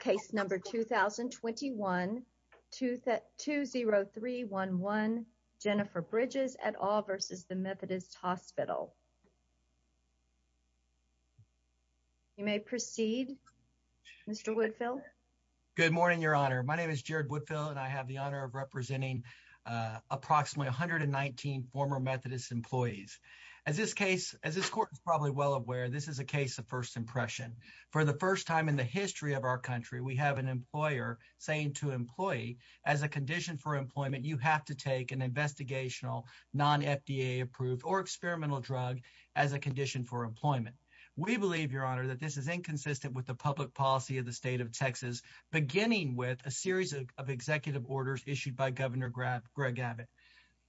Case number 2021-20311, Jennifer Bridges et al. v. Methodist Hospital You may proceed, Mr. Woodfill. Good morning, Your Honor. My name is Jared Woodfill, and I have the honor of representing approximately 119 former Methodist employees. As this case, as this court is probably well aware, this is a case of first impression. For the first time in the history of our country, we have an employer saying to an employee, as a condition for employment, you have to take an investigational, non-FDA approved or experimental drug as a condition for employment. We believe, Your Honor, that this is inconsistent with the public policy of the state of Texas, beginning with a series of executive orders issued by Governor Greg Abbott.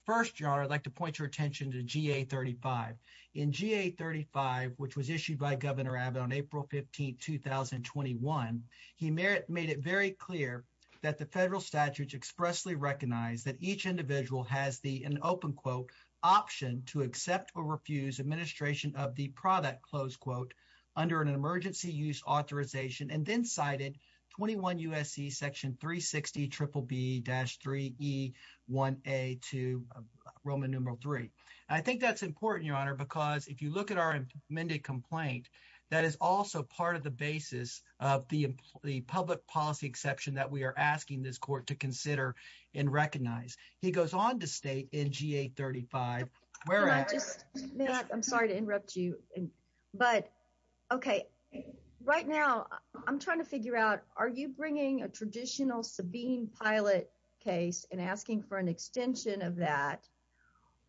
First, Your Honor, I'd like to point your attention to GA-35. In GA-35, which was issued by Governor Abbott on April 15, 2021, he made it very clear that the federal statutes expressly recognize that each individual has the, in open quote, option to accept or refuse administration of the product, close quote, under an emergency use authorization, and then cited 21 U.S.C. section 360 triple B-3E1A2, Roman numeral 3. I think that's important, Your Honor, because if you look at our amended complaint, that is also part of the basis of the public policy exception that we are asking this court to consider and recognize. He goes on to state in GA-35, where I'm sorry to interrupt you, but okay. Right now, I'm trying to figure out, are you bringing a traditional Sabine pilot case and asking for an extension of that,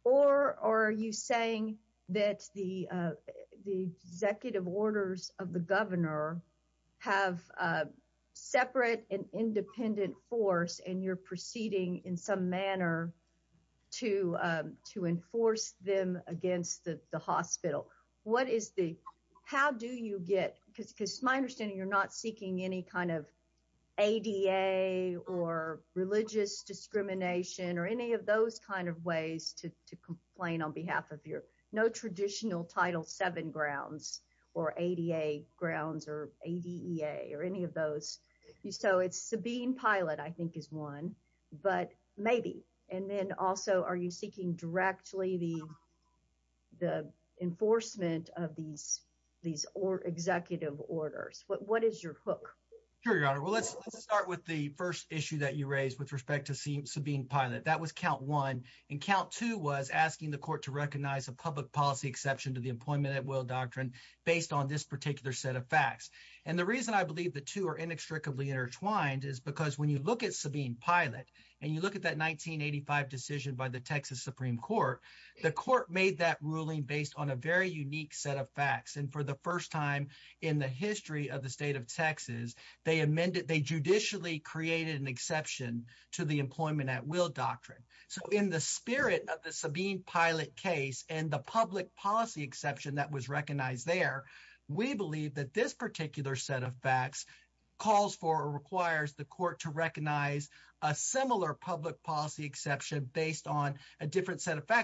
or are you saying that the executive orders of the governor have separate and independent force and you're proceeding in some manner to enforce them against the hospital? What is the, how do you get, because it's my understanding you're not seeking any kind of ADA or religious discrimination or any of those kind of ways to complain on behalf of your, no traditional Title VII grounds or ADA grounds or ADEA or any of those. So it's Sabine pilot, I think is one, but maybe, and then also, are you seeking directly the enforcement of these executive orders? What is your hook? Sure, Your Honor. Well, let's start with the first issue that you raised with respect to Sabine pilot. That was count one, and count two was asking the court to recognize a public policy exception to the employment at will doctrine based on this particular set of facts. And the reason I believe the two are inextricably intertwined is because when you look at Sabine court, the court made that ruling based on a very unique set of facts. And for the first time in the history of the state of Texas, they amended, they judicially created an exception to the employment at will doctrine. So in the spirit of the Sabine pilot case and the public policy exception that was recognized there, we believe that this particular set of facts calls for or requires the court to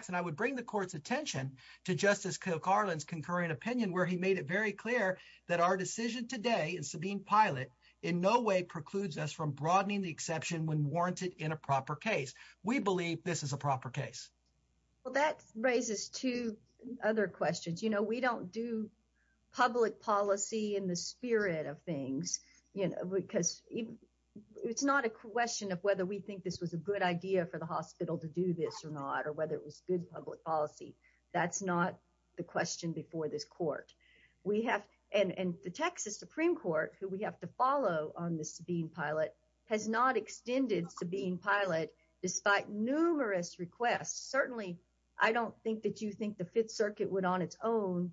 And I would bring the court's attention to Justice Kirk Harland's concurring opinion, where he made it very clear that our decision today is Sabine pilot in no way precludes us from broadening the exception when warranted in a proper case. We believe this is a proper case. Well, that raises two other questions. You know, we don't do public policy in the spirit of things, you know, because it's not a question of whether we think this was a good idea for the hospital to do this or not, or whether it was good public policy. That's not the question before this court. We have, and the Texas Supreme Court who we have to follow on the Sabine pilot has not extended Sabine pilot, despite numerous requests, certainly, I don't think that you think the Fifth Circuit would on its own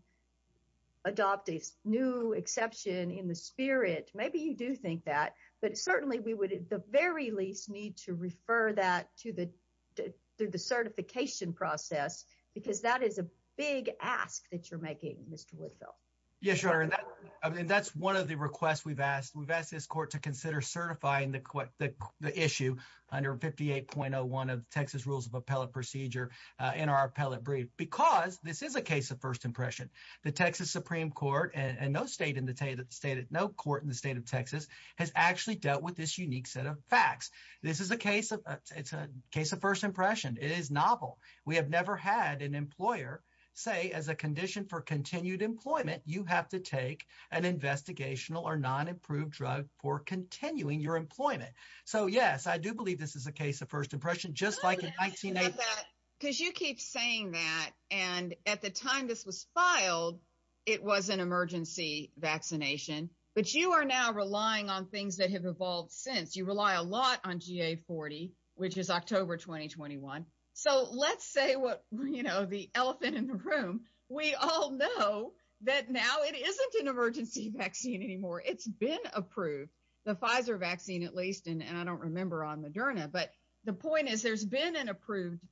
adopt a new exception in the spirit. Maybe you do think that, but certainly we would at the very least need to refer that to the certification process, because that is a big ask that you're making, Mr. Woodfill. Yes, Your Honor, and that's one of the requests we've asked. We've asked this court to consider certifying the issue under 58.01 of the Texas Rules of Appellate Procedure in our appellate brief, because this is a case of first impression. The Texas Supreme Court and no state in the state, no court in the state of Texas has actually dealt with this unique set of facts. This is a case of, it's a case of first impression. It is novel. We have never had an employer say as a condition for continued employment, you have to take an investigational or non-approved drug for continuing your employment. So yes, I do believe this is a case of first impression, just like in 1980. Because you keep saying that, and at the time this was filed, it was an emergency vaccination, but you are now relying on things that have evolved since. You rely a lot on GA40, which is October 2021. So let's say what, you know, the elephant in the room, we all know that now it isn't an emergency vaccine anymore. It's been approved, the Pfizer vaccine at least, and I don't remember on Moderna, but the point is there's been an approved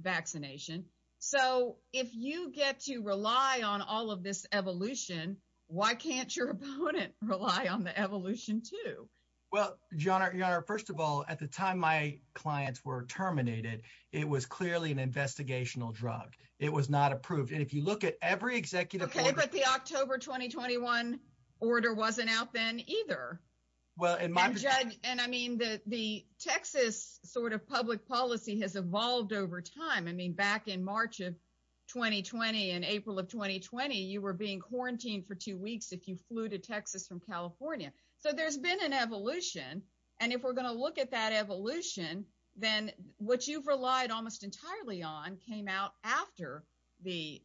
vaccination. So if you get to rely on all of this evolution, why can't your opponent rely on the evolution too? Well, Your Honor, first of all, at the time my clients were terminated, it was clearly an investigational drug. It was not approved. And if you look at every executive order- Okay, but the October 2021 order wasn't out then either. Well, in my- And I mean, the Texas sort of public policy has evolved over time. I mean, back in March of 2020 and April of 2020, you were being quarantined for two weeks if you flew to Texas from California. So there's been an evolution. And if we're going to look at that evolution, then what you've relied almost entirely on came out after the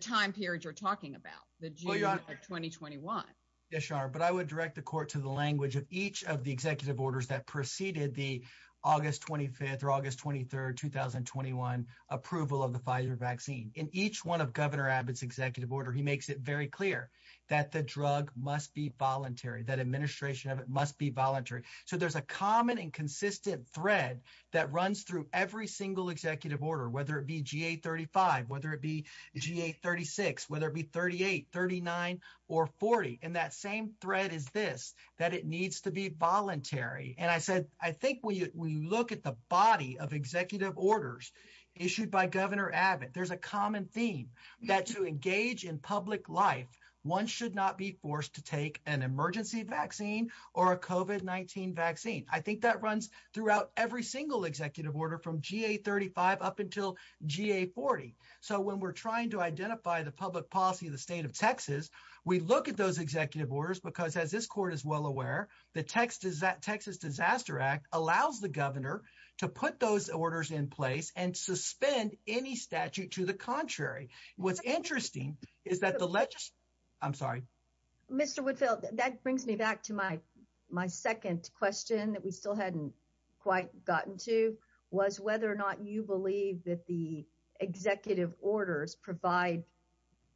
time period you're talking about, the June of 2021. Yes, Your Honor, but I would direct the court to the language of each of the executive orders that preceded the August 25th or August 23rd, 2021 approval of the Pfizer vaccine. In each one of Governor Abbott's executive order, he makes it very clear that the drug must be voluntary, that administration of it must be voluntary. So there's a common and consistent thread that runs through every single executive order, whether it be GA-35, whether it be GA-36, whether it be 38, 39, or 40. And that same thread is this, that it needs to be voluntary. And I said, I think when you look at the body of executive orders issued by Governor Abbott, there's a common theme that to engage in public life, one should not be forced to take an emergency vaccine or a COVID-19 vaccine. I think that runs throughout every single executive order from GA-35 up until GA-40. So when we're trying to identify the public policy of the state of Texas, we look at those executive orders because as this court is well aware, the Texas Disaster Act allows the governor to put those orders in place and suspend any statute to the contrary. What's interesting is that the legis... I'm sorry. Mr. Woodfield, that brings me back to my second question that we still hadn't quite gotten to was whether or not you believe that the executive orders provide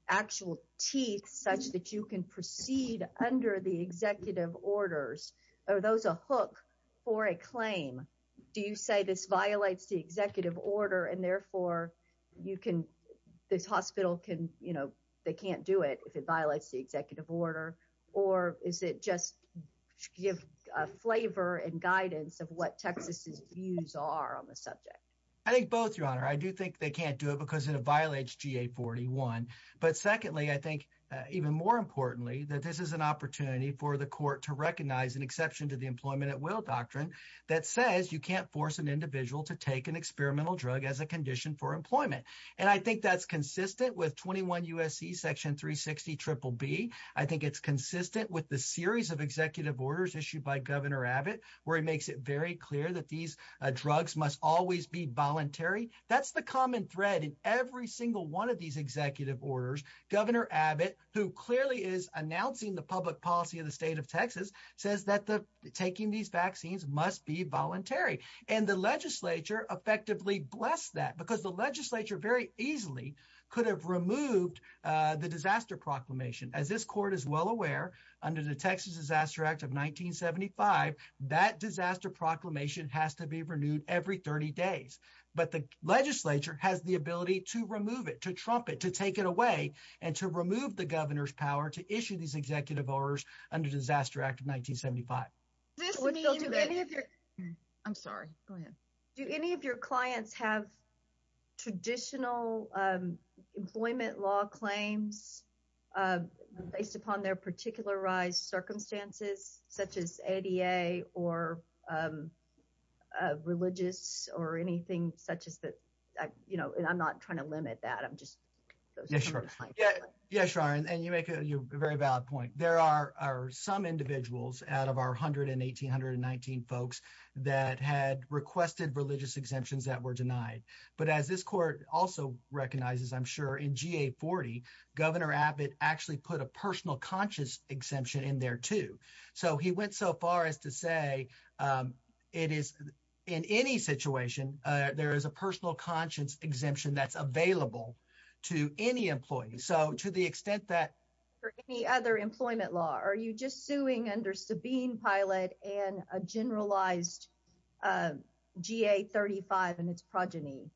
actual teeth such that you can proceed under the executive orders, are those a hook or a claim? Do you say this violates the executive order and therefore you can, this hospital can, you know, they can't do it if it violates the executive order, or is it just give flavor and guidance of what Texas's views are on the subject? I think both, Your Honor. I do think they can't do it because it violates GA-41. But secondly, I think even more importantly, that this is an opportunity for the court to recognize an exception to the employment at will doctrine that says you can't force an individual to take an experimental drug as a condition for employment. And I think that's consistent with 21 U.S.C. section 360 triple B. I think it's consistent with the series of executive orders issued by Governor Abbott where he makes it very clear that these drugs must always be voluntary. That's the common thread in every single one of these executive orders. Governor Abbott, who clearly is announcing the public policy of the state of Texas, says that taking these vaccines must be voluntary. And the legislature effectively blessed that because the legislature very easily could have removed the disaster proclamation. As this court is well aware, under the Texas Disaster Act of 1975, that disaster proclamation has to be renewed every 30 days. But the legislature has the ability to remove it, to trump it, to take it away, and to remove the governor's power to issue these executive orders under Disaster Act of 1975. I'm sorry. Go ahead. Do any of your clients have traditional employment law claims based upon their particularized circumstances, such as ADA or religious or anything such as that, you know, and I'm not trying to limit that. I'm just. Yes, and you make a very valid point. There are some individuals out of our hundred and eighteen, hundred and nineteen folks that had requested religious exemptions that were denied. But as this court also recognizes, I'm sure in GA 40, Governor Abbott actually put a two. So he went so far as to say it is in any situation there is a personal conscience exemption that's available to any employee. So to the extent that for any other employment law, are you just suing under Sabine Pilot and a generalized GA 35 and its progeny?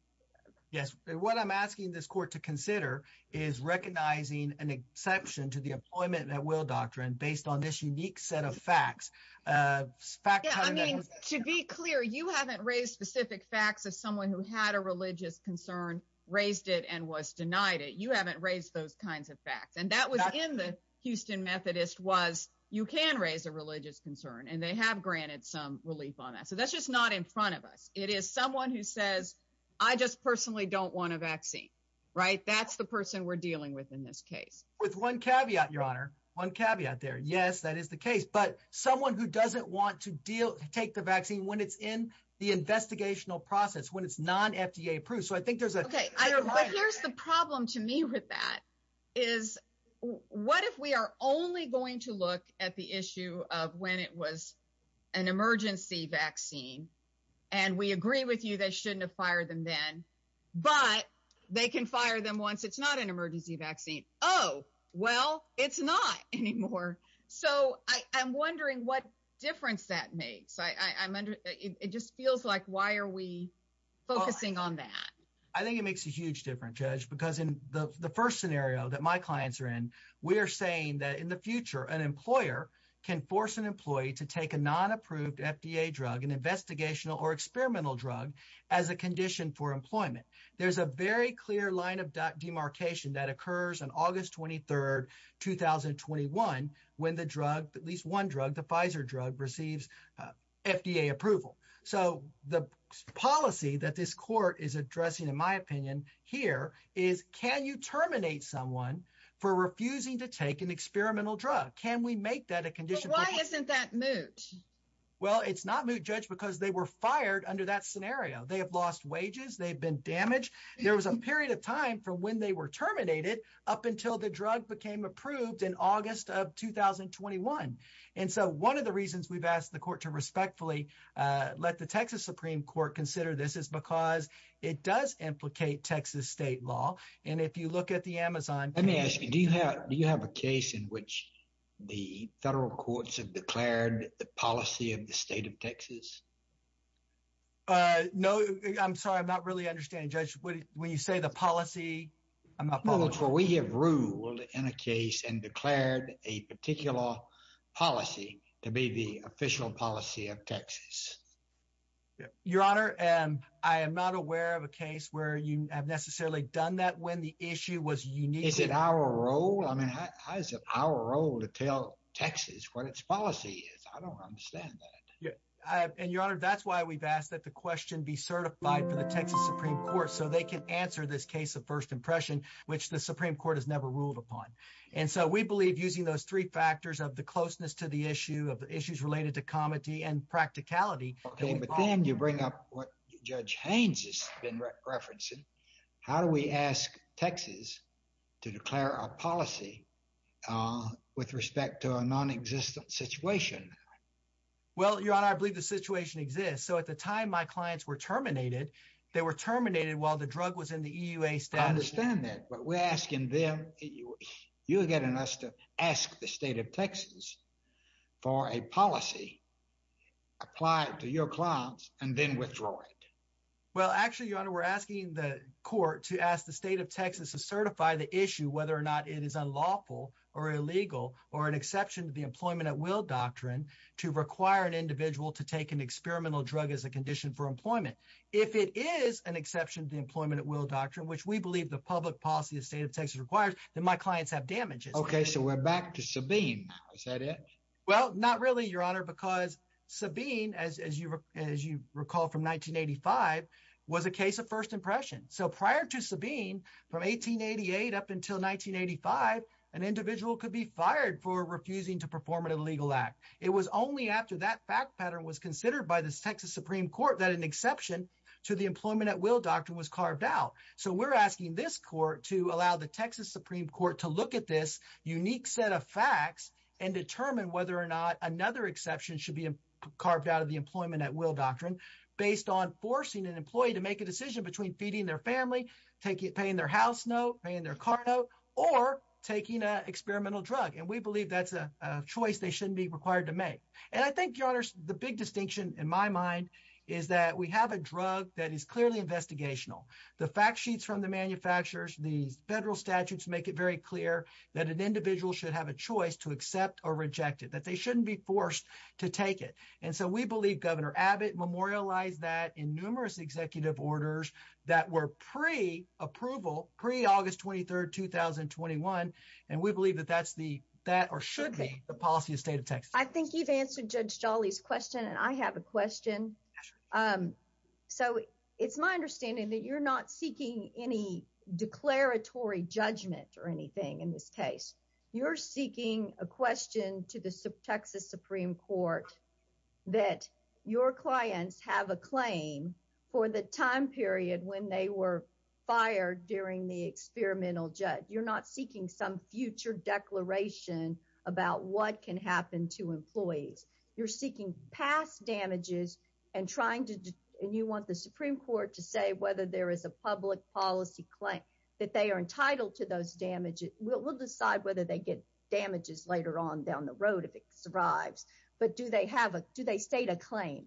Yes. What I'm asking this court to consider is recognizing an exception to the employment that will doctrine based on this unique set of facts, facts to be clear. You haven't raised specific facts of someone who had a religious concern, raised it and was denied it. You haven't raised those kinds of facts. And that was in the Houston Methodist was you can raise a religious concern and they have granted some relief on that. So that's just not in front of us. It is someone who says, I just personally don't want a vaccine. Right. That's the person we're dealing with in this case. With one caveat, your honor, one caveat there. Yes, that is the case. But someone who doesn't want to deal, take the vaccine when it's in the investigational process, when it's non FDA approved. So I think there's a problem to me with that is what if we are only going to look at the issue of when it was an emergency vaccine and we agree with you, they shouldn't have fired them then, but they can fire them once. It's not an emergency vaccine. Oh, well, it's not anymore. So I'm wondering what difference that makes. I mean, it just feels like why are we focusing on that? I think it makes a huge difference, Judge, because in the first scenario that my clients are in, we are saying that in the future, an employer can force an employee to take a non approved FDA drug, an investigational or experimental drug as a condition for employment. There's a very clear line of demarcation that occurs. And August 23rd, 2021, when the drug, at least one drug, the Pfizer drug receives FDA approval. So the policy that this court is addressing, in my opinion, here is can you terminate someone for refusing to take an experimental drug? Can we make that a condition? Why isn't that moot? Well, it's not moot, Judge, because they were fired under that scenario. They have lost wages. They've been damaged. There was a period of time from when they were terminated up until the drug became approved in August of 2021. And so one of the reasons we've asked the court to respectfully let the Texas Supreme Court consider this is because it does implicate Texas state law. And if you look at the Amazon. Let me ask you, do you have a case in which the federal courts have declared the policy of the state of Texas? Uh, no, I'm sorry, I'm not really understanding, Judge, when you say the policy, I'm not following. Well, we have ruled in a case and declared a particular policy to be the official policy of Texas. Your Honor, I am not aware of a case where you have necessarily done that when the issue was unique. Is it our role? I mean, how is it our role to tell Texas what its policy is? I don't understand that. And your Honor, that's why we've asked that the question be certified for the Texas Supreme Court so they can answer this case of first impression, which the Supreme Court has never ruled upon. And so we believe using those three factors of the closeness to the issue of the issues related to comedy and practicality. But then you bring up what Judge Haynes has been referencing. How do we ask Texas to declare a policy with respect to a nonexistent situation? Well, your Honor, I believe the situation exists. So at the time my clients were terminated, they were terminated while the drug was in the EUA status. I understand that, but we're asking them, you're getting us to ask the state of Texas for a policy, apply it to your clients and then withdraw it. Well, actually, your Honor, we're asking the court to ask the state of Texas to certify the issue, whether or not it is unlawful or illegal or an exception to the employment at will doctrine to require an individual to take an experimental drug as a condition for employment. If it is an exception to the employment at will doctrine, which we believe the public policy of state of Texas requires, then my clients have damages. OK, so we're back to Sabine. Is that it? Well, not really, your Honor, because Sabine, as you recall from 1985, was a case of first impression. So prior to Sabine, from 1888 up until 1985, an individual could be terminated without a legal act. It was only after that fact pattern was considered by the Texas Supreme Court that an exception to the employment at will doctrine was carved out. So we're asking this court to allow the Texas Supreme Court to look at this unique set of facts and determine whether or not another exception should be carved out of the employment at will doctrine based on forcing an employee to make a decision between feeding their family, paying their house note, paying their car note or taking an alternative choice they shouldn't be required to make. And I think, your Honor, the big distinction in my mind is that we have a drug that is clearly investigational. The fact sheets from the manufacturers, these federal statutes make it very clear that an individual should have a choice to accept or reject it, that they shouldn't be forced to take it. And so we believe Governor Abbott memorialized that in numerous executive orders that were pre-approval, pre-August 23rd, 2021. And we believe that that's the that or should be the policy of state of Texas. I think you've answered Judge Jolly's question and I have a question. So it's my understanding that you're not seeking any declaratory judgment or anything in this case. You're seeking a question to the Texas Supreme Court that your clients have a claim for the time period when they were fired during the experimental judge. You're not seeking some future declaration about what can happen to employees. You're seeking past damages and trying to and you want the Supreme Court to say whether there is a public policy claim that they are entitled to those damages. We'll decide whether they get damages later on down the road if it survives. But do they have a do they state a claim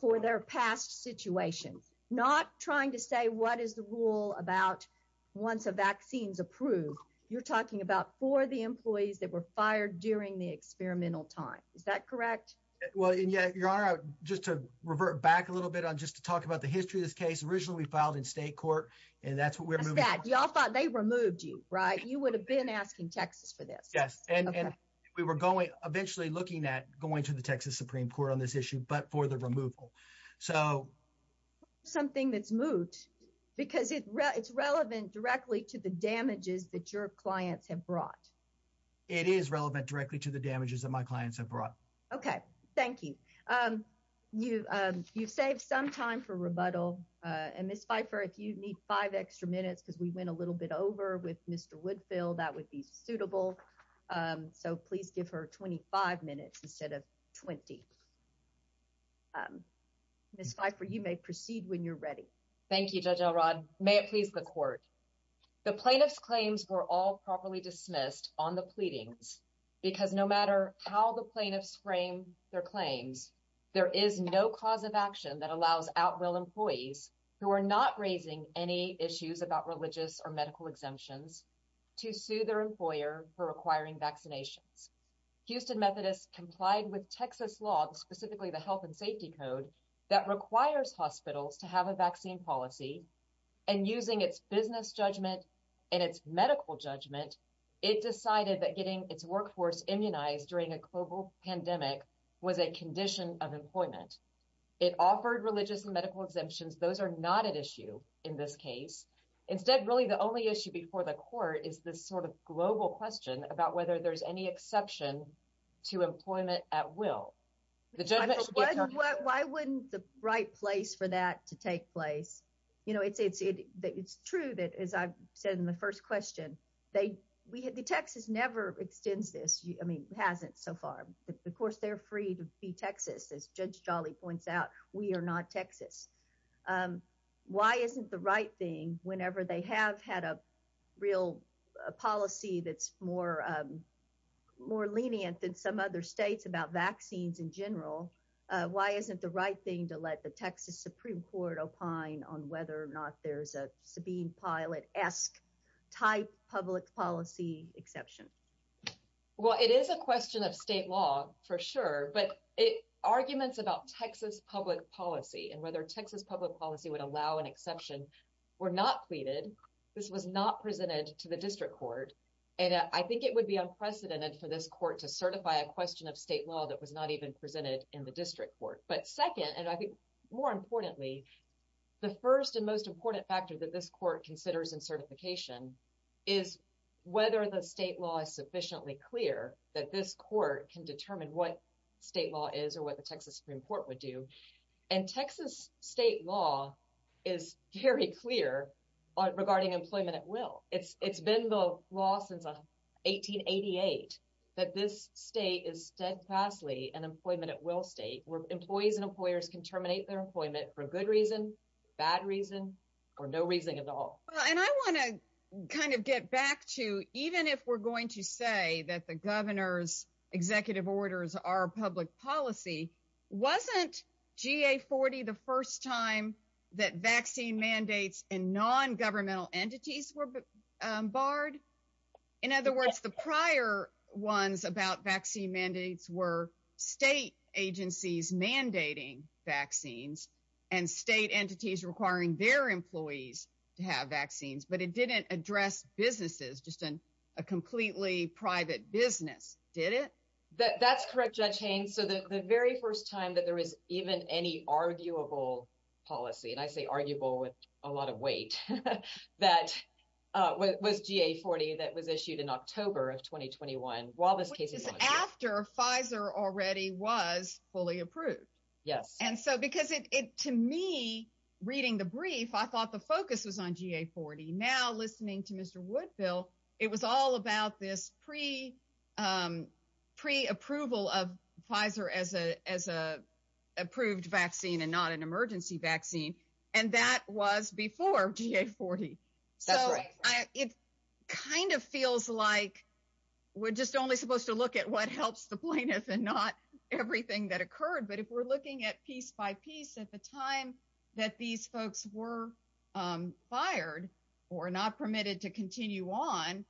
for their past situation? Not trying to say what is the rule about once a vaccine is approved, you're talking about for the employees that were fired during the experimental time. Is that correct? Well, yeah. Your Honor, just to revert back a little bit on just to talk about the history of this case originally filed in state court. And that's what we're moving at. Y'all thought they removed you, right? You would have been asking Texas for this. Yes. And we were going eventually looking at going to the Texas Supreme Court on this issue, but for the removal. So something that's moot because it's relevant directly to the damages that your clients have brought. It is relevant directly to the damages that my clients have brought. OK, thank you. You you've saved some time for rebuttal. And Miss Pfeiffer, if you need five extra minutes because we went a little bit over with Mr. Woodfield, that would be suitable. So please give her 25 minutes instead of 20. Miss Pfeiffer, you may proceed when you're ready. Thank you, Judge Elrod. May it please the court. The plaintiff's claims were all properly dismissed on the pleadings because no matter how the plaintiffs frame their claims, there is no cause of action that allows outwill employees who are not raising any issues about religious or medical exemptions to sue their employer for requiring vaccinations. Houston Methodist complied with Texas law, specifically the health and safety code that requires hospitals to have a vaccine policy and using its business judgment and its medical judgment, it decided that getting its workforce immunized during a global pandemic was a condition of employment. It offered religious and medical exemptions. Those are not an issue in this case. Instead, really the only issue before the court is this sort of global question about whether there's any exception to employment at will. The judgment. Why wouldn't the right place for that to take place? You know, it's it's true that, as I said in the first question, they we had the Texas never extends this. I mean, hasn't so far. Of course, they're free to be Texas. As Judge Jolly points out, we are not Texas. Why isn't the right thing whenever they have had a real policy that's more more lenient than some other states about vaccines in general? Why isn't the right thing to let the Texas Supreme Court opine on whether or not there's a Sabine Pilate esque type public policy exception? Well, it is a question of state law, for sure. But arguments about Texas public policy and whether Texas public policy would allow an exception were not pleaded. This was not presented to the district court. And I think it would be unprecedented for this court to certify a question of state law that was not even presented in the district court. But second, and I think more importantly, the first and most important factor that this court considers in certification is whether the state law is sufficiently clear that this state law is or what the Texas Supreme Court would do. And Texas state law is very clear regarding employment at will. It's it's been the law since 1888 that this state is steadfastly an employment at will state where employees and employers can terminate their employment for good reason, bad reason or no reason at all. And I want to kind of get back to even if we're going to say that the governor's executive orders are public policy, wasn't G.A. 40 the first time that vaccine mandates and non-governmental entities were barred? In other words, the prior ones about vaccine mandates were state agencies mandating vaccines and state entities requiring their employees to have vaccines. But it didn't address businesses, just a completely private business, did it? That's correct, Judge Haynes. So the very first time that there is even any arguable policy, and I say arguable with a lot of weight, that was G.A. 40 that was issued in October of 2021. Well, this case is after Pfizer already was fully approved. Yes. And so because it to me, reading the brief, I thought the focus was on G.A. 40. Now, listening to Mr. Woodville, it was all about this pre-approval of Pfizer as a approved vaccine and not an emergency vaccine. And that was before G.A. 40. So it kind of feels like we're just only supposed to look at what helps the plaintiff and not everything that occurred. But if we're looking at piece by piece at the time that these folks were fired or not permitted to continue on,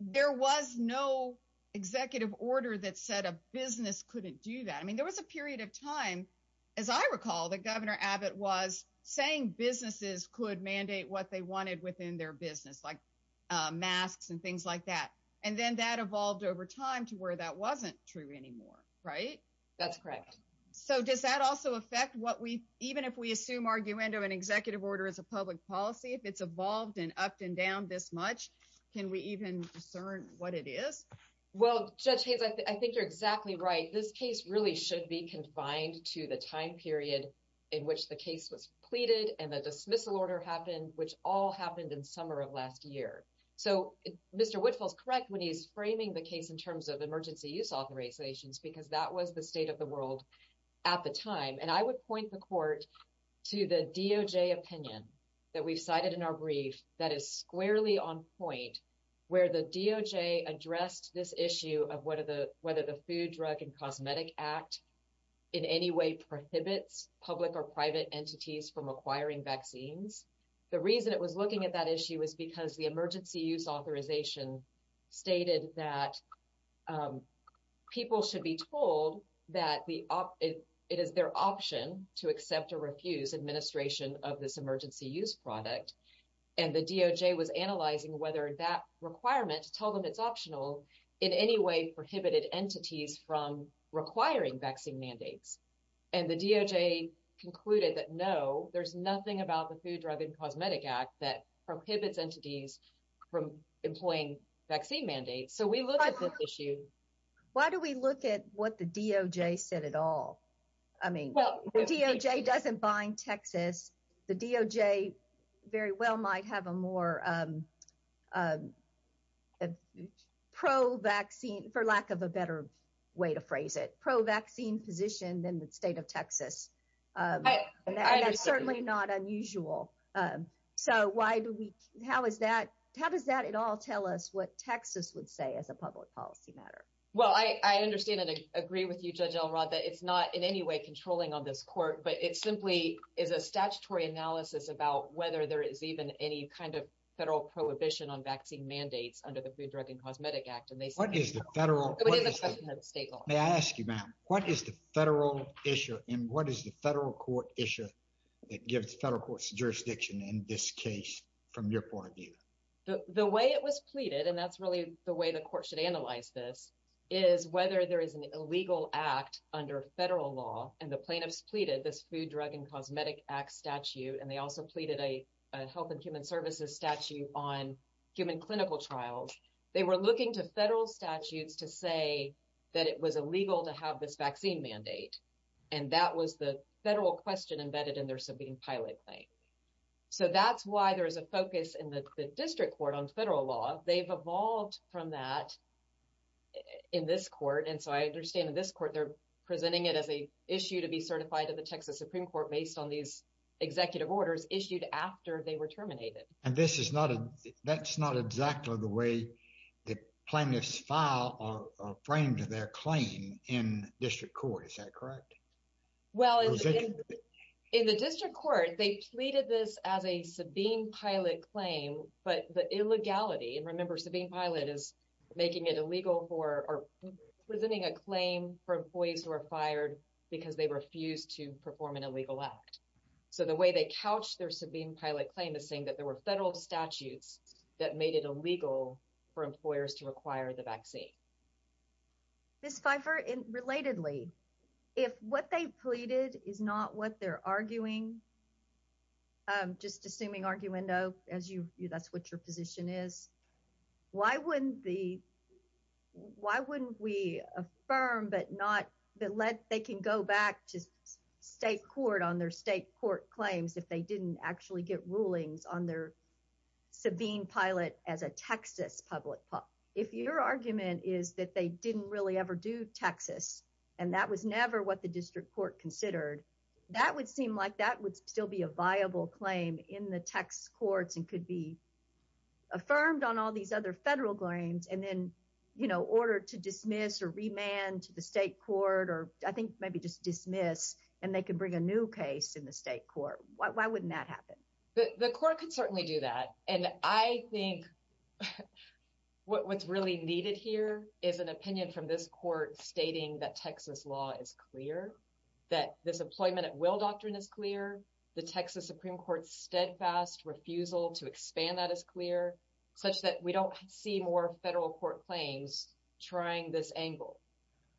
there was no executive order that said a business couldn't do that. I mean, there was a period of time, as I recall, that Governor Abbott was saying businesses could mandate what they wanted within their business, like masks and things like that. And then that evolved over time to where that wasn't true anymore, right? That's correct. So does that also affect what we even if we assume arguendo an executive order as a public policy, if it's evolved and upped and down this much, can we even discern what it is? Well, Judge Haynes, I think you're exactly right. This case really should be confined to the time period in which the case was pleaded and the dismissal order happened, which all happened in summer of last year. So Mr. Woodville is correct when he's framing the case in terms of emergency use authorizations, because that was the state of the world at the time. And I would point the court to the DOJ opinion that we've cited in our brief that is squarely on point where the DOJ addressed this issue of whether the Food, Drug and Cosmetic Act in any way prohibits public or private entities from acquiring vaccines. The reason it was looking at that issue is because the emergency use authorization stated that people should be told that it is their option to accept or refuse administration of this emergency use product. And the DOJ was analyzing whether that requirement to tell them it's optional in any way prohibited entities from requiring vaccine mandates. And the DOJ concluded that, no, there's nothing about the Food, Drug and Cosmetic Act that prohibits entities from employing vaccine mandates. So we look at this issue. Why do we look at what the DOJ said at all? I mean, the DOJ doesn't bind Texas. The DOJ very well might have a more pro-vaccine, for lack of a better way to phrase it, pro-vaccine position than the state of Texas. And that's certainly not unusual. So why do we, how is that, how does that at all tell us what Texas would say as a public policy matter? Well, I understand and agree with you, Judge Elrod, that it's not in any way controlling on this court, but it simply is a statutory analysis about whether there is even any kind of federal prohibition on vaccine mandates under the Food, Drug and Cosmetic Act. And they say- What is the federal- But in the question of state law. May I ask you, ma'am, what is the federal issue and what is the federal court issue that gives federal courts jurisdiction in this case, from your point of view? The way it was pleaded, and that's really the way the court should analyze this, is whether there is an illegal act under federal law. And the plaintiffs pleaded this Food, Drug and Cosmetic Act statute. And they also pleaded a Health and Human Services statute on human clinical trials. They were looking to federal statutes to say that it was illegal to have this vaccine mandate. And that was the federal question embedded in their subpoenaed pilot claim. So that's why there is a focus in the district court on federal law. They've evolved from that in this court. And so I understand in this court, they're presenting it as a issue to be certified to the Texas Supreme Court based on these executive orders issued after they were terminated. And this is not, that's not exactly the way the plaintiffs file or frame their claim in the district court. Is that correct? Well, in the district court, they pleaded this as a subpoenaed pilot claim, but the illegality, and remember, subpoenaed pilot is making it illegal for or presenting a claim for employees who are fired because they refuse to perform an illegal act. So the way they couch their subpoenaed pilot claim is saying that there were federal statutes that made it illegal for employers to require the vaccine. Ms. Pfeiffer, relatedly, if what they pleaded is not what they're arguing, just assuming arguendo, as you, that's what your position is, why wouldn't the, why wouldn't we affirm, but not, but let, they can go back to state court on their state court claims if they didn't actually get rulings on their subpoenaed pilot as a Texas public pilot. If your argument is that they didn't really ever do Texas, and that was never what the district court considered, that would seem like that would still be a viable claim in the text courts and could be affirmed on all these other federal claims. And then, you know, order to dismiss or remand to the state court, or I think maybe just dismiss and they can bring a new case in the state court. Why wouldn't that happen? The court could certainly do that. And I think what's really needed here is an opinion from this court stating that Texas law is clear, that this employment at will doctrine is clear. The Texas Supreme Court's steadfast refusal to expand that as clear such that we don't see more federal court claims trying this angle.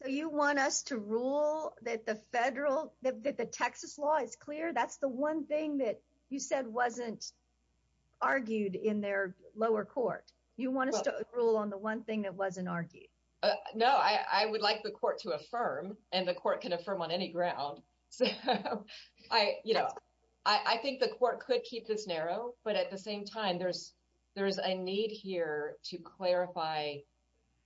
So you want us to rule that the federal, that the Texas law is clear. That's the one thing that you said wasn't argued in their lower court. You want us to rule on the one thing that wasn't argued. No, I would like the court to affirm and the court can affirm on any ground. I, you know, I think the court could keep this narrow, but at the same time, there's there's a need here to clarify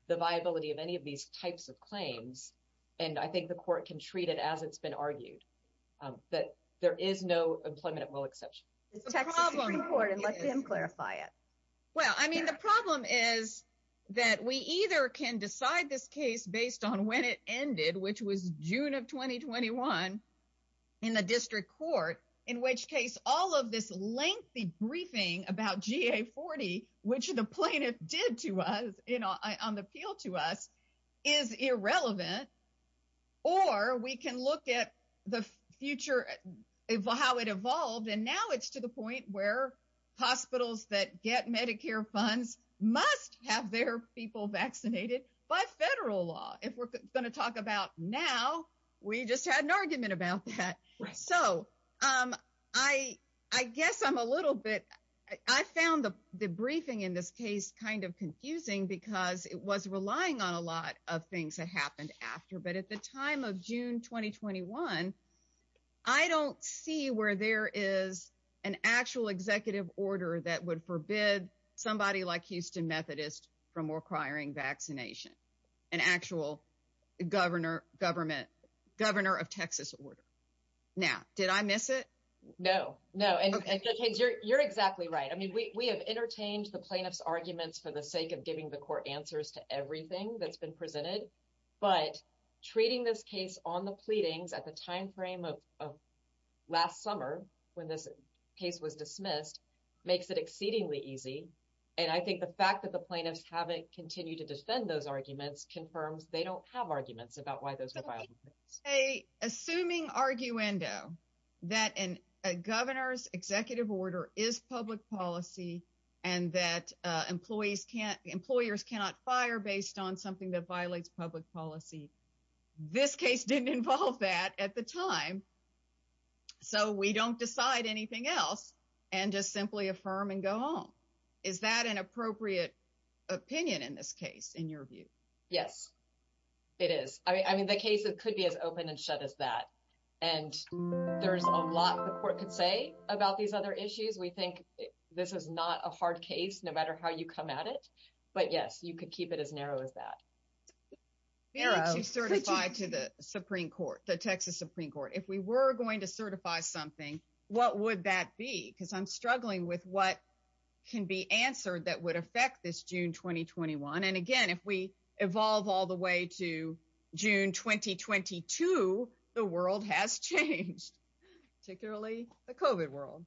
the viability of any of these types of claims. And I think the court can treat it as it's been argued that there is no employment at will exception. The Texas Supreme Court and let them clarify it. Well, I mean, the problem is that we either can decide this case based on when it ended, which was June of twenty twenty one in the district court, in which case all of this lengthy briefing about GA40, which the plaintiff did to us on the appeal to us, is irrelevant. Or we can look at the future, how it evolved, and now it's to the point where hospitals that get Medicare funds must have their people vaccinated by federal law. If we're going to talk about now, we just had an argument about that. So I I guess I'm a little bit I found the briefing in this case kind of confusing because it was relying on a lot of things that happened after. But at the time of June twenty twenty one, I don't see where there is an actual executive order that would forbid somebody like Houston Methodist from requiring vaccination, an actual governor, government governor of Texas order. Now, did I miss it? No, no. And you're exactly right. I mean, we have entertained the plaintiff's arguments for the sake of giving the court answers to everything that's been presented. But treating this case on the pleadings at the time frame of last summer, when this case was dismissed, makes it exceedingly easy. And I think the fact that the plaintiffs haven't continued to defend those arguments confirms they don't have arguments about why those. A assuming arguendo that a governor's executive order is public policy and that employees can't employers cannot fire based on something that violates public policy. This case didn't involve that at the time. So we don't decide anything else and just simply affirm and go home. Is that an appropriate opinion in this case, in your view? Yes, it is. I mean, the case, it could be as open and shut as that. And there's a lot the court could say about these other issues. We think this is not a hard case, no matter how you come at it. But, yes, you could keep it as narrow as that. We need to certify to the Supreme Court, the Texas Supreme Court, if we were going to certify something, what would that be? Because I'm struggling with what can be answered that would affect this June 2021. And again, if we evolve all the way to June 2022, the world has changed, particularly the COVID world.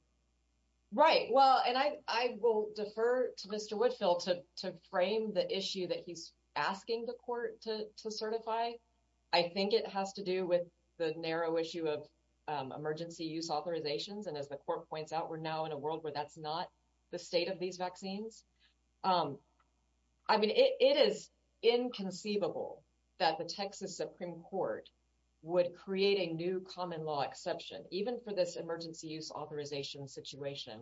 Right. Well, and I will defer to Mr. Woodfill to frame the issue that he's asking the court to certify. I think it has to do with the narrow issue of emergency use authorizations. And as the court points out, we're now in a world where that's not the state of these issues. It is inconceivable that the Texas Supreme Court would create a new common law exception, even for this emergency use authorization situation,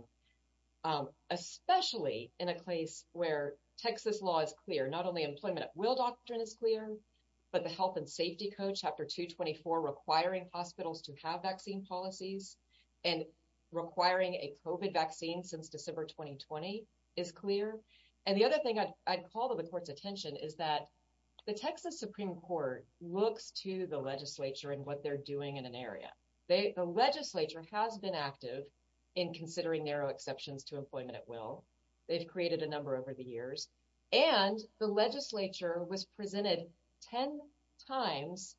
especially in a place where Texas law is clear, not only employment at will doctrine is clear, but the Health and Safety Code, Chapter 224, requiring hospitals to have vaccine policies and requiring a COVID vaccine since December 2020 is clear. And the other thing I'd call to the court's attention is that the Texas Supreme Court looks to the legislature and what they're doing in an area. The legislature has been active in considering narrow exceptions to employment at will. They've created a number over the years. And the legislature was presented 10 times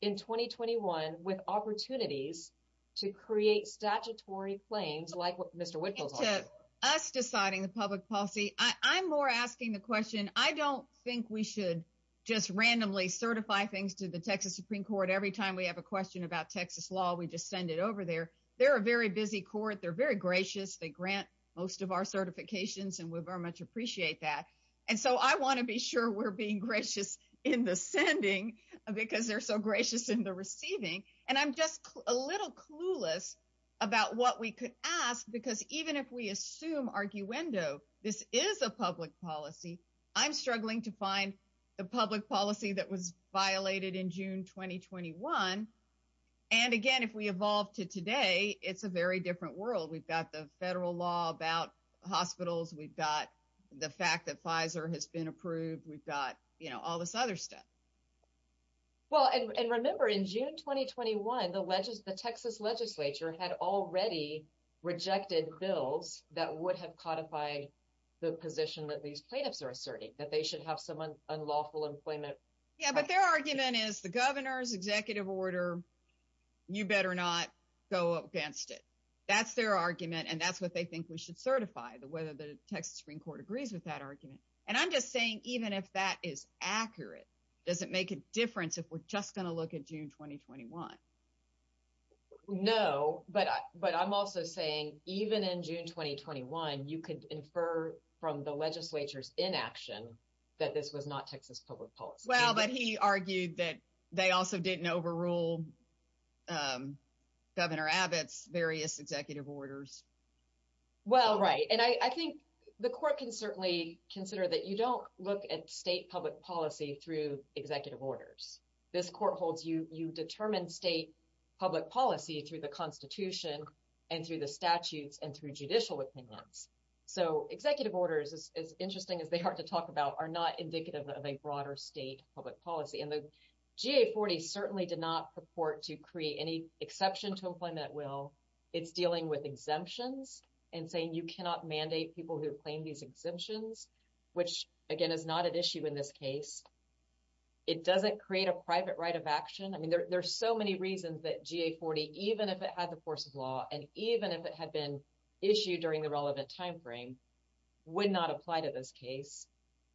in 2021 with opportunities to create statutory claims like what Mr. Whitfield said. Us deciding the public policy, I'm more asking the question, I don't think we should just randomly certify things to the Texas Supreme Court. Every time we have a question about Texas law, we just send it over there. They're a very busy court. They're very gracious. They grant most of our certifications and we very much appreciate that. And so I want to be sure we're being gracious in the sending because they're so gracious in the receiving. And I'm just a little clueless about what we could ask, because even if we assume arguendo, this is a public policy. I'm struggling to find the public policy that was violated in June 2021. And again, if we evolve to today, it's a very different world. We've got the federal law about hospitals. We've got the fact that Pfizer has been approved. We've got all this other stuff. Well, and remember, in June 2021, the Texas legislature had already rejected bills that would have codified the position that these plaintiffs are asserting, that they should have some unlawful employment. Yeah, but their argument is the governor's executive order. You better not go against it. That's their argument. And that's what they think we should certify, whether the Texas Supreme Court agrees with that argument. And I'm just saying, even if that is accurate. Does it make a difference if we're just going to look at June 2021? No, but but I'm also saying, even in June 2021, you could infer from the legislature's inaction that this was not Texas public policy. Well, but he argued that they also didn't overrule Governor Abbott's various executive orders. Well, right. And I think the court can certainly consider that you don't look at state public policy through executive orders. This court holds you, you determine state public policy through the Constitution and through the statutes and through judicial opinions. So executive orders, as interesting as they are to talk about, are not indicative of a broader state public policy. And the GA40 certainly did not purport to create any exception to employment. It's dealing with exemptions and saying you cannot mandate people who claim these exemptions, which, again, is not an issue in this case. It doesn't create a private right of action. I mean, there's so many reasons that GA40, even if it had the force of law and even if it had been issued during the relevant time frame, would not apply to this case.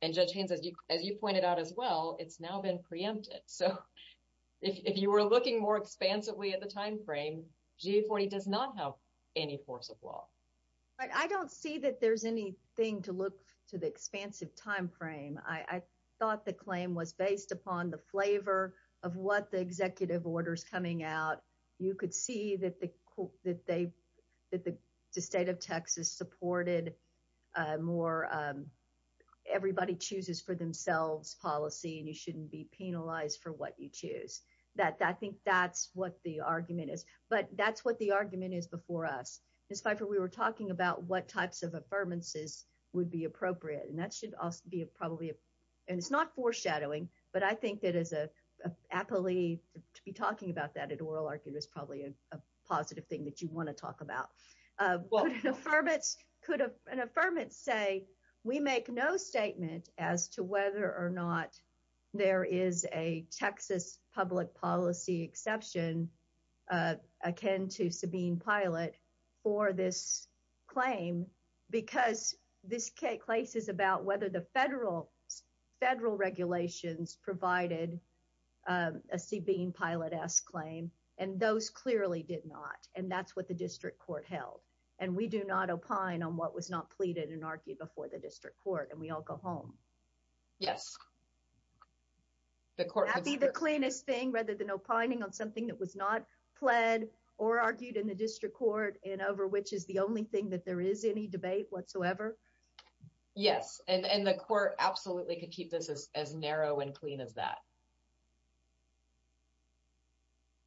And Judge Haynes, as you pointed out as well, it's now been preempted. So if you were looking more expansively at the time frame, GA40 does not have any force of law. I don't see that there's anything to look to the expansive time frame. I thought the claim was based upon the flavor of what the executive orders coming out. You could see that the state of Texas supported more everybody chooses for themselves policy and you shouldn't be penalized for what you choose. That I think that's what the argument is. But that's what the argument is before us. Ms. Pfeiffer, we were talking about what types of affirmances would be appropriate. And that should also be a probably and it's not foreshadowing, but I think that as a appellee to be talking about that at oral argument is probably a positive thing that you want to talk about. Could an affirmance say, we make no statement as to whether or not there is a Texas public policy exception akin to Sabine Pilate for this claim because this case is about whether the federal regulations provided a Sabine Pilate-esque claim. And those clearly did not. And that's what the district court held. And we do not opine on what was not pleaded and argued before the district court. And we all go home. Yes. That'd be the cleanest thing rather than opining on something that was not pled or argued in the district court and over which is the only thing that there is any debate whatsoever. Yes. And the court absolutely could keep this as narrow and clean as that.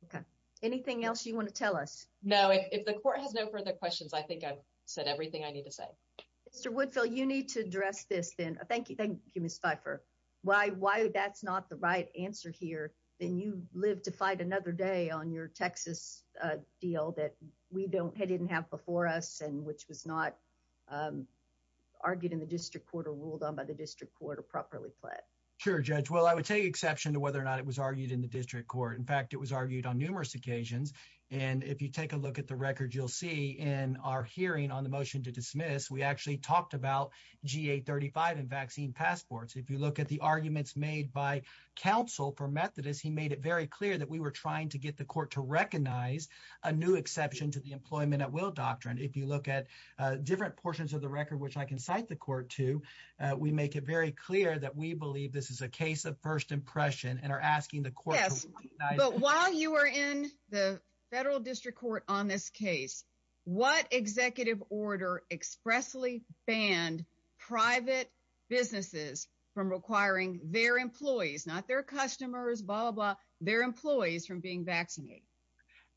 Okay. Anything else you want to tell us? No. If the court has no further questions, I think I've said everything I need to say. Mr. Woodfill, you need to address this then. Thank you. Thank you, Ms. Pfeiffer. Why? Why? That's not the right answer here. Then you live to fight another day on your Texas deal that we don't have before us and which was not argued in the district court or ruled on by the district court or properly pled. Sure, Judge. Well, I would take exception to whether or not it was argued in the district court. In fact, it was argued on numerous occasions. And if you take a look at the record, you'll see in our hearing on the motion to dismiss, we actually talked about G835 and vaccine passports. If you look at the arguments made by counsel for Methodist, he made it very clear that we were trying to get the court to recognize a new exception to the employment at will doctrine. If you look at different portions of the record, which I can cite the court to, we make it very clear that we believe this is a case of first impression and are asking the court. But while you are in the federal district court on this case, what executive order expressly banned private businesses from requiring their employees, not their customers, blah, blah, blah, their employees from being vaccinated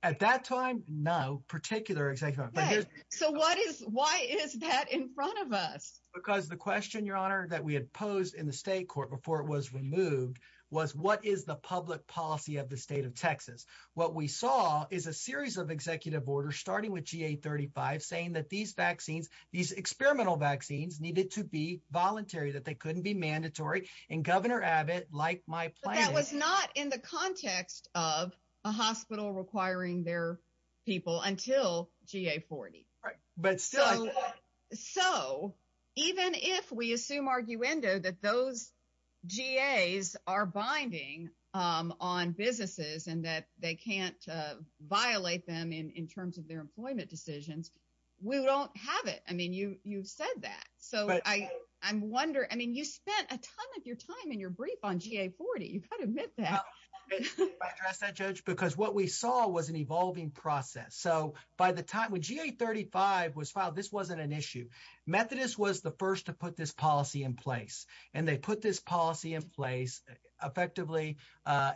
at that time? No particular executive. So what is why is that in front of us? Because the question, your honor, that we had posed in the state court before it was removed was what is the public policy of the state of Texas? What we saw is a series of executive orders, starting with G835, saying that these vaccines, these experimental vaccines needed to be voluntary, that they couldn't be mandatory. And Governor Abbott, like my plan, was not in the context of a hospital requiring their people until G840. But so, so even if we assume arguendo that those GAs are binding on businesses and that they can't violate them in terms of their employment decisions, we don't have it. I mean, you you've said that. So I I'm wondering, I mean, you spent a ton of your time in your brief on G840. You've got to admit that. If I could address that, Judge, because what we saw was an evolving process. So by the time when G835 was filed, this wasn't an issue. Methodist was the first to put this policy in place and they put this policy in place. Effectively,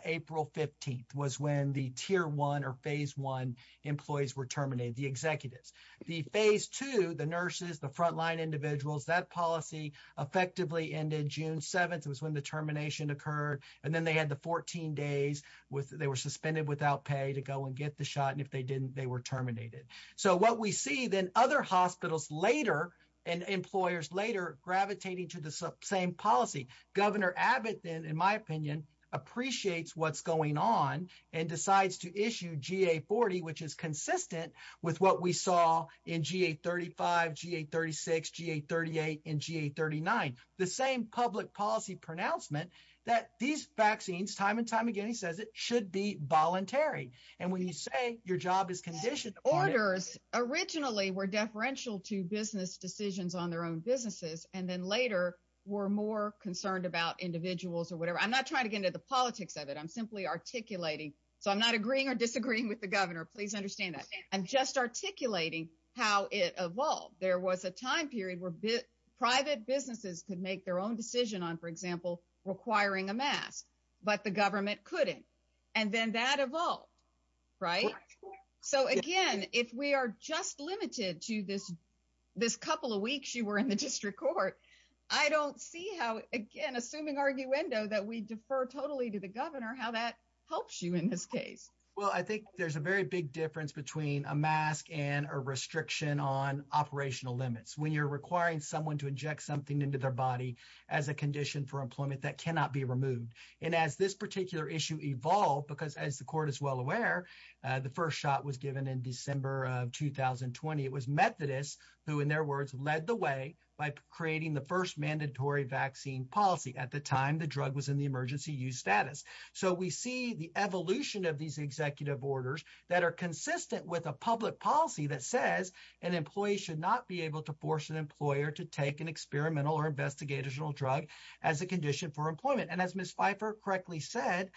April 15th was when the tier one or phase one employees were terminated. The executives, the phase two, the nurses, the frontline individuals, that policy effectively ended June 7th was when the termination occurred. And then they had the 14 days with they were suspended without pay to go and get the terminated. So what we see then other hospitals later and employers later gravitating to the same policy, Governor Abbott, then, in my opinion, appreciates what's going on and decides to issue G840, which is consistent with what we saw in G835, G836, G838 and G839. The same public policy pronouncement that these vaccines time and time again, he says it should be voluntary. And when you say your job is conditioned, orders originally were deferential to business decisions on their own businesses and then later were more concerned about individuals or whatever. I'm not trying to get into the politics of it. I'm simply articulating. So I'm not agreeing or disagreeing with the governor. Please understand that I'm just articulating how it evolved. There was a time period where private businesses could make their own decision on, for example, requiring a mask. But the government couldn't. And then that evolved. Right. So, again, if we are just limited to this, this couple of weeks you were in the district court, I don't see how, again, assuming arguendo that we defer totally to the governor, how that helps you in this case. Well, I think there's a very big difference between a mask and a restriction on operational limits when you're requiring someone to inject something into their body as a condition for employment that cannot be removed. And as this particular issue evolved, because as the court is well aware, the first shot was given in December of 2020. It was Methodist who, in their words, led the way by creating the first mandatory vaccine policy. At the time, the drug was in the emergency use status. So we see the evolution of these executive orders that are consistent with a public policy that says an employee should not be able to force an employer to take an experimental or investigational drug as a condition for employment. And as Ms. Pfeiffer correctly said,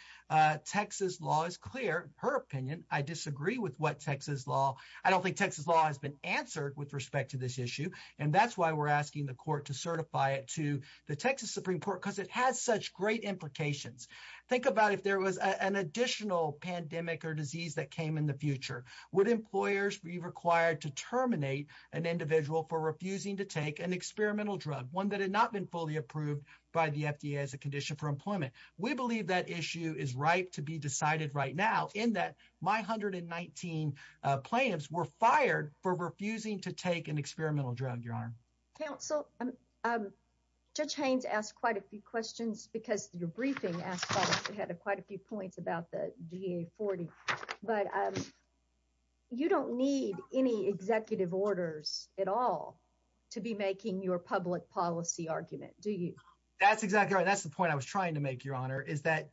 Texas law is clear, her opinion. I disagree with what Texas law. I don't think Texas law has been answered with respect to this issue. And that's why we're asking the court to certify it to the Texas Supreme Court, because it has such great implications. Think about if there was an additional pandemic or disease that came in the future, would employers be required to terminate an individual for refusing to take an experimental drug, one that had not been fully approved by the FDA as a condition for employment? We believe that issue is ripe to be decided right now in that my 119 plaintiffs were fired for refusing to take an experimental drug, Your Honor. Counsel, Judge Haynes asked quite a few questions because your briefing had quite a few points about the DA40, but you don't need any executive orders at all to be making your public policy argument, do you? That's exactly right. That's the point I was trying to make, Your Honor, is that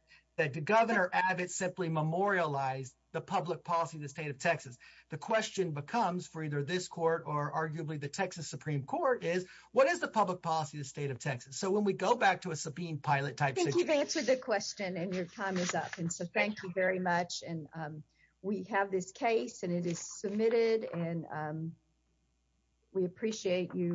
Governor Abbott simply memorialized the public policy of the state of Texas. The question becomes for either this court or arguably the Texas Supreme Court is, what is the public policy of the state of Texas? So when we go back to a subpoenaed pilot type situation. I think you've answered the question and your time is up. And so thank you very much. And we have this case and it is submitted and we appreciate you.